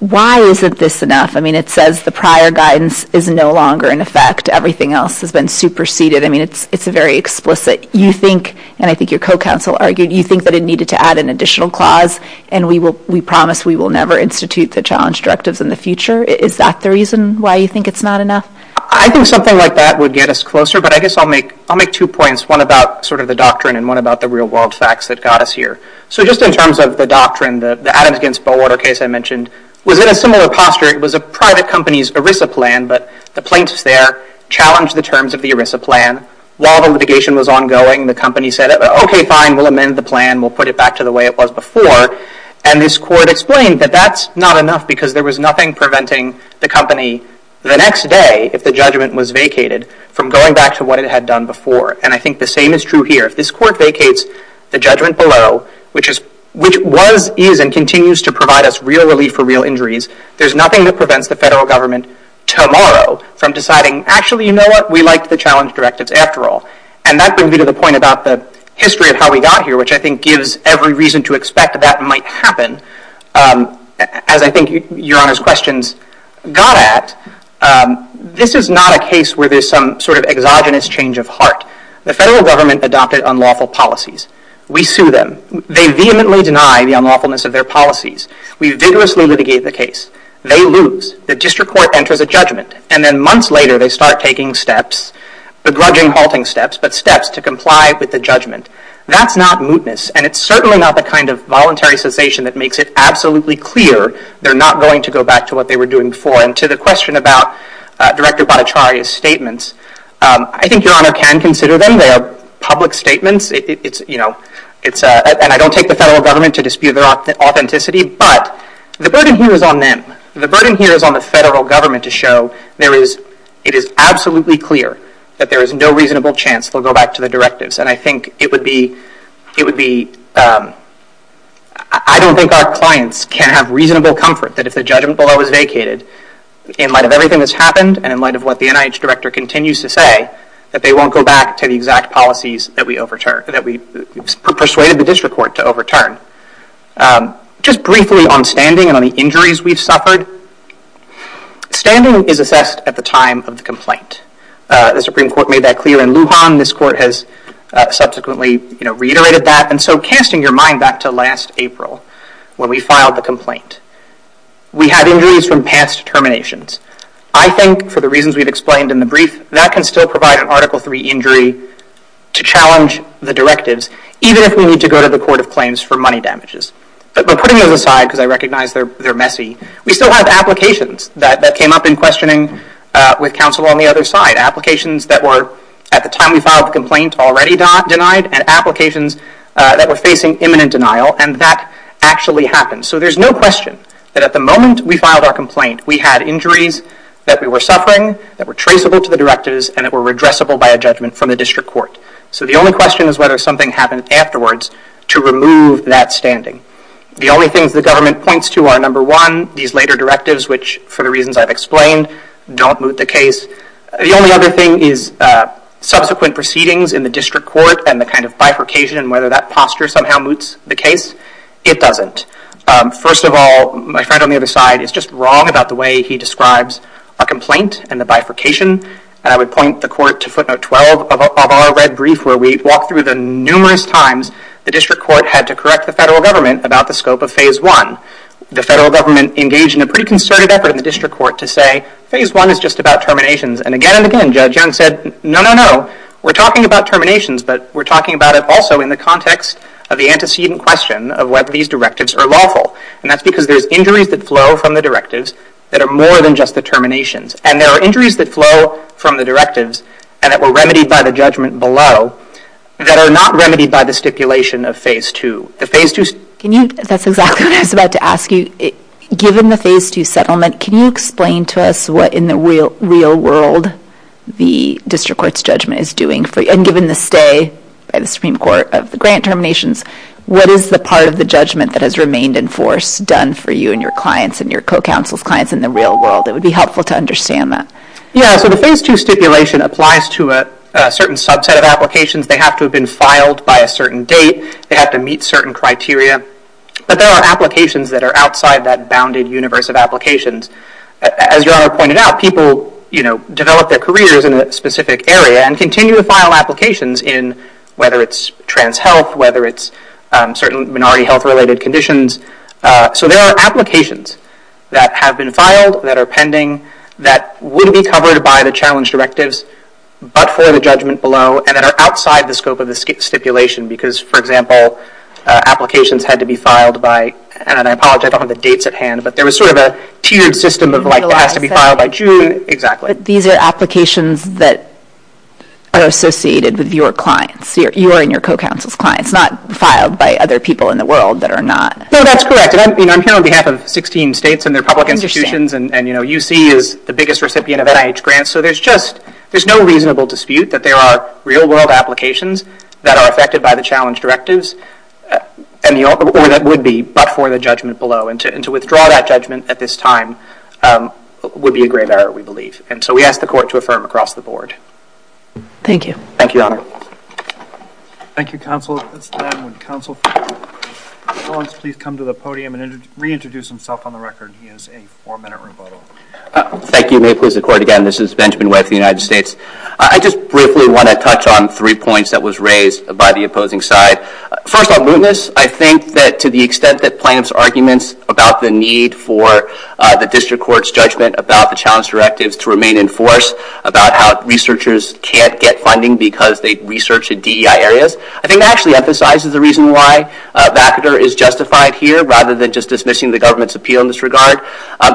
why isn't this enough? I mean, it says the prior guidance is no longer in effect. Everything else has been superseded. I mean, it's very explicit. And I think your co-counsel argued, you think that it needed to add an additional clause, and we promise we will never institute the challenge directives in the future. Is that the reason why you think it's not enough? I think something like that would get us closer, but I guess I'll make two points, one about sort of the doctrine and one about the real world facts that got us here. So just in terms of the doctrine, the Adams against Bowater case I mentioned was in a similar posture. It was a private company's ERISA plan, but the plaintiffs there challenged the terms of the ERISA plan while the litigation was ongoing. The company said, okay, fine, we'll amend the plan. We'll put it back to the way it was before. And this court explained that that's not enough because there was nothing preventing the company the next day, if the judgment was vacated, from going back to what it had done before. And I think the same is true here. If this court vacates the judgment below, which was, is, and continues to provide us real relief for real injuries, there's nothing that prevents the federal government tomorrow from deciding, actually, you know what? We liked the challenge directives after all. And that brings me to the point about the history of how we got here, which I think gives every reason to expect that that might happen. As I think Your Honor's questions got at, this is not a case where there's some sort of exogenous change of heart. The federal government adopted unlawful policies. We sue them. They vehemently deny the unlawfulness of their policies. We vigorously litigate the case. They lose. The district court enters a judgment. And then months later, they start taking steps, begrudging halting steps, but steps to comply with the judgment. That's not mootness. And it's certainly not the kind of voluntary cessation that makes it absolutely clear they're not going to go back to what they were doing before. And to the question about Director Bonacciari's statements, I think Your Honor can consider them. They are public statements. It's, you know, it's a, and I don't take the federal government to dispute their authenticity. But the burden here is on them. The burden here is on the federal government to show there is, it is absolutely clear that there is no reasonable chance they'll go back to the directives. And I think it would be, it would be, I don't think our clients can have reasonable comfort that if the judgment below is vacated, in light of everything that's happened, and in light of what the NIH director continues to say, that they won't go back to the exact policies that we persuaded the district court to overturn. Just briefly on standing and on the injuries we've suffered, standing is assessed at the time of the complaint. The Supreme Court made that clear in Lujan. This court has subsequently reiterated that. And so casting your mind back to last April, when we filed the complaint. We had injuries from past terminations. I think, for the reasons we've explained in the brief, that can still provide an Article III injury to challenge the directives, even if we need to go to the Court of Claims for money damages. But putting those aside, because I recognize they're messy, we still have applications that came up in questioning with counsel on the other side. Applications that were, at the time we filed the complaint, already denied. And applications that were facing imminent denial. And that actually happened. So there's no question that at the moment we filed our complaint, we had injuries that we were suffering, that were traceable to the directives, and that were redressable by a judgment from the district court. So the only question is whether something happened afterwards to remove that standing. The only things the government points to are, number one, these later directives, which, for the reasons I've explained, don't moot the case. The only other thing is subsequent proceedings in the district court, and the kind of bifurcation, and whether that posture somehow moots the case. It doesn't. First of all, my friend on the other side is just wrong about the way he describes a complaint and the bifurcation. And I would point the court to footnote 12 of our red brief, where we walk through the numerous times the district court had to correct the federal government about the scope of phase one. The federal government engaged in a pretty concerted effort in the district court to say, phase one is just about terminations. And again and again, Judge Young said, no, no, no. We're talking about terminations, but we're talking about it also in the context of the antecedent question of whether these directives are lawful. And that's because there's injuries that flow from the directives that are more than just the terminations. And there are injuries that flow from the directives, and that were remedied by the judgment below, that are not remedied by the stipulation of phase two. That's exactly what I was about to ask you. Given the phase two settlement, can you explain to us what, in the real world, the district court's judgment is doing? And given the stay by the Supreme Court of the grant terminations, what is the part of the judgment that has remained in force done for you and your clients and your co-counsel's clients in the real world? It would be helpful to understand that. Yeah, so the phase two stipulation applies to a certain subset of applications. They have to have been filed by a certain date. They have to meet certain criteria. But there are applications that are outside that bounded universe of applications. As your Honor pointed out, people develop their careers in a specific area and continue to file applications in whether it's trans health, whether it's certain minority health-related conditions. So there are applications that have been filed, that are pending, that wouldn't be covered by the challenge directives, but for the judgment below, and that are outside the scope of the stipulation. Because, for example, applications had to be filed by, and I apologize, I don't have the dates at hand, but there was sort of a tiered system of like, it has to be filed by June. But these are applications that are associated with your clients. You are in your co-counsel's clients, not filed by other people in the world that are not. No, that's correct. And I'm here on behalf of 16 states and their public institutions. And UC is the biggest recipient of NIH grants. So there's just, there's no reasonable dispute that there are real world applications that are affected by the challenge directives, and the only way that would be, but for the judgment below. And to withdraw that judgment at this time would be a grave error, we believe. And so we ask the court to affirm across the board. Thank you. Thank you, Your Honor. Thank you, counsel. At this time, would counsel please come to the podium and reintroduce himself on the record. He has a four-minute rebuttal. Thank you. May it please the court again. This is Benjamin Webb of the United States. I just briefly want to touch on three points that was raised by the opposing side. First, on mootness, I think that to the extent that plaintiff's arguments about the need for the district court's judgment about the challenge directives to remain in force, about how researchers can't get funding because they research in DEI areas, I think that actually emphasizes the reason why VACADR is justified here, rather than just dismissing the government's appeal in this regard.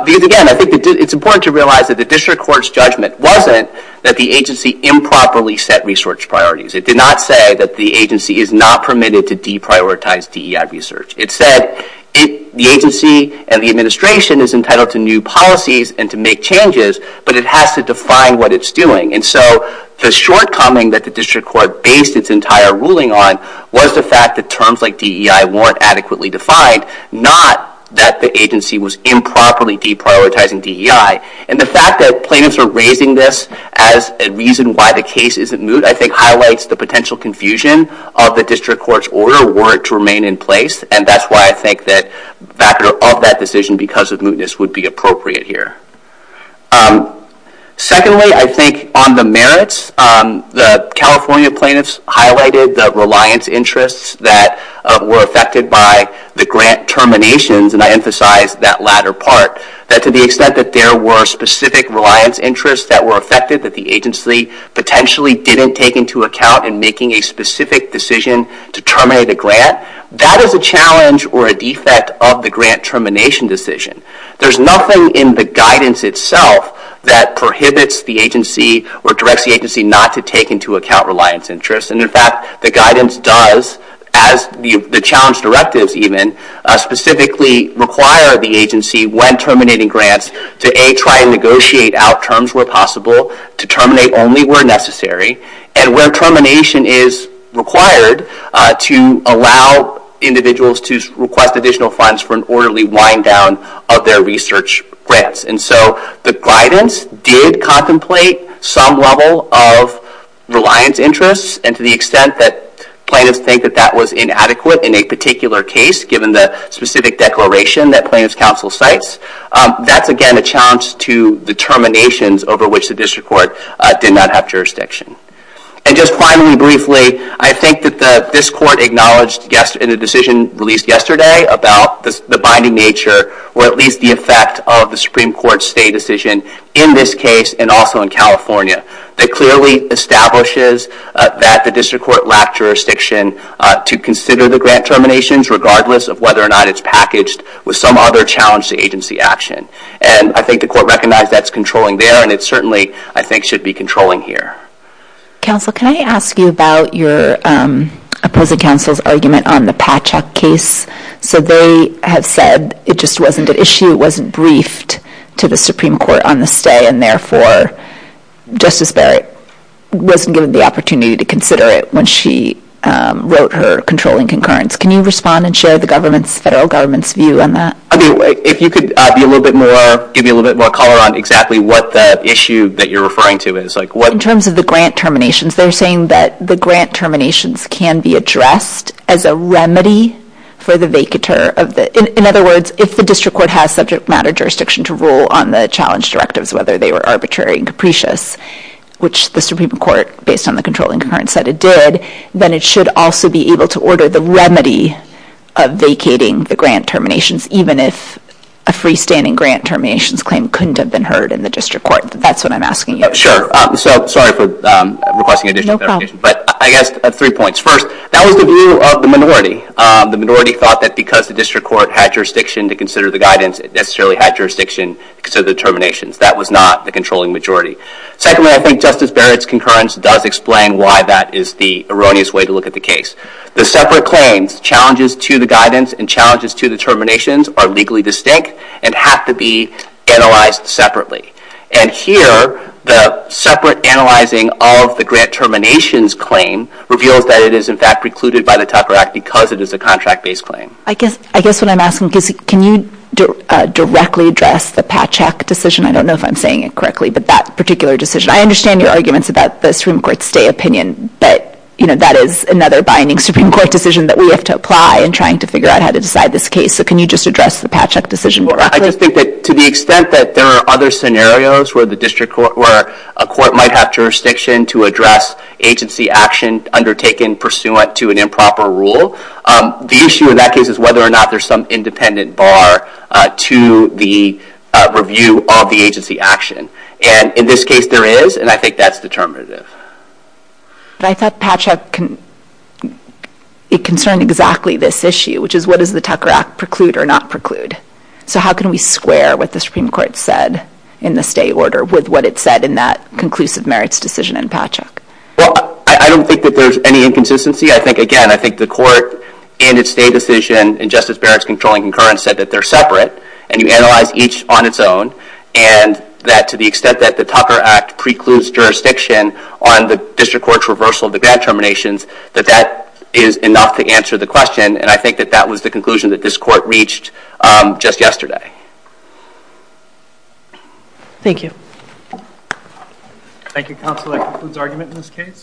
Because again, I think it's important to realize that the district court's judgment wasn't that the agency improperly set research priorities. It did not say that the agency is not permitted to deprioritize DEI research. It said the agency and the administration is entitled to new policies and to make changes, but it has to define what it's doing. And so the shortcoming that the district court based its entire ruling on was the fact that terms like DEI weren't adequately defined, not that the agency was improperly deprioritizing DEI. And the fact that plaintiffs are raising this as a reason why the case isn't moot, I think highlights the potential confusion of the district court's order were it to remain in place. And that's why I think that VACADR of that decision because of mootness would be appropriate here. Secondly, I think on the merits, the California plaintiffs highlighted the reliance interests that were affected by the grant terminations, and I emphasize that latter part, that to the extent that there were specific reliance interests that were affected that the agency potentially didn't take into account in making a specific decision to terminate a grant, that is a challenge or a defect of the grant termination decision. There's nothing in the guidance itself that prohibits the agency or directs the agency not to take into account reliance interests. And in fact, the guidance does, as the challenge directives even, specifically require the agency when terminating grants to A, try and negotiate out terms where possible, to terminate only where necessary, and where termination is required to allow individuals to request additional funds for an orderly wind down of their research grants. And so the guidance did contemplate some level of reliance interests. And to the extent that plaintiffs think that that was inadequate in a particular case, given the specific declaration that plaintiffs' counsel cites, that's again a challenge to the terminations over which the district court did not have jurisdiction. And just finally, briefly, I think that this court acknowledged in a decision released yesterday about the binding nature, or at least the effect of the Supreme Court's stay decision in this case, and also in California, that clearly establishes that the district court lacked jurisdiction to consider the grant terminations, regardless of whether or not it's packaged with some other challenge to agency action. And I think the court recognized that's controlling there, and it certainly, I think, should be controlling here. Counsel, can I ask you about your opposing counsel's argument on the Patchak case? So they have said it just wasn't an issue, it wasn't briefed to the Supreme Court on the stay, and therefore Justice Barrett wasn't given the opportunity to consider it when she wrote her controlling concurrence. Can you respond and share the federal government's view on that? If you could give me a little bit more color on exactly what the issue that you're referring to is. In terms of the grant terminations, they're saying that the grant terminations can be addressed as a remedy for the vacatur of the, in other words, if the district court has subject matter jurisdiction to rule on the challenge directives, whether they were arbitrary and capricious, which the Supreme Court, based on the controlling concurrence, said it did, then it should also be able to order the remedy of vacating the grant terminations, even if a freestanding grant terminations claim couldn't have been heard in the district court. That's what I'm asking you. Sure. So sorry for requesting additional clarification. But I guess, three points. First, that was the view of the minority. The minority thought that because the district court had jurisdiction to consider the guidance, it necessarily had jurisdiction to consider the terminations. That was not the controlling majority. Secondly, I think Justice Barrett's concurrence does explain why that is the erroneous way to look at the case. The separate claims, challenges to the guidance and challenges to the terminations, are legally distinct and have to be analyzed separately. And here, the separate analyzing of the grant terminations claim reveals that it is, in fact, precluded by the Tucker Act because it is a contract-based claim. I guess what I'm asking is, can you directly address the Patchak decision? I don't know if I'm saying it correctly, but that particular decision. I understand your arguments about the Supreme Court's stay opinion. But that is another binding Supreme Court decision that we have to apply in trying to figure out how to decide this case. So can you just address the Patchak decision more accurately? I just think that to the extent that there are other scenarios where a court might have jurisdiction to address agency action undertaken pursuant to an improper rule, the issue in that case is whether or not there's some independent bar to the review of the agency action. And in this case, there is. And I think that's determinative. But I thought Patchak concerned exactly this issue, which is, what does the Tucker Act preclude or not preclude? So how can we square what the Supreme Court said in the stay order with what it said in that conclusive merits decision in Patchak? Well, I don't think that there's any inconsistency. I think, again, I think the court and its stay decision in Justice Barrett's controlling concurrence said that they're separate. And you analyze each on its own. And that to the extent that the Tucker Act precludes jurisdiction on the district court's reversal of the grand terminations, that that is enough to answer the question. And I think that that was the conclusion that this court reached just yesterday. Thank you. Thank you, counsel. That concludes argument in this case.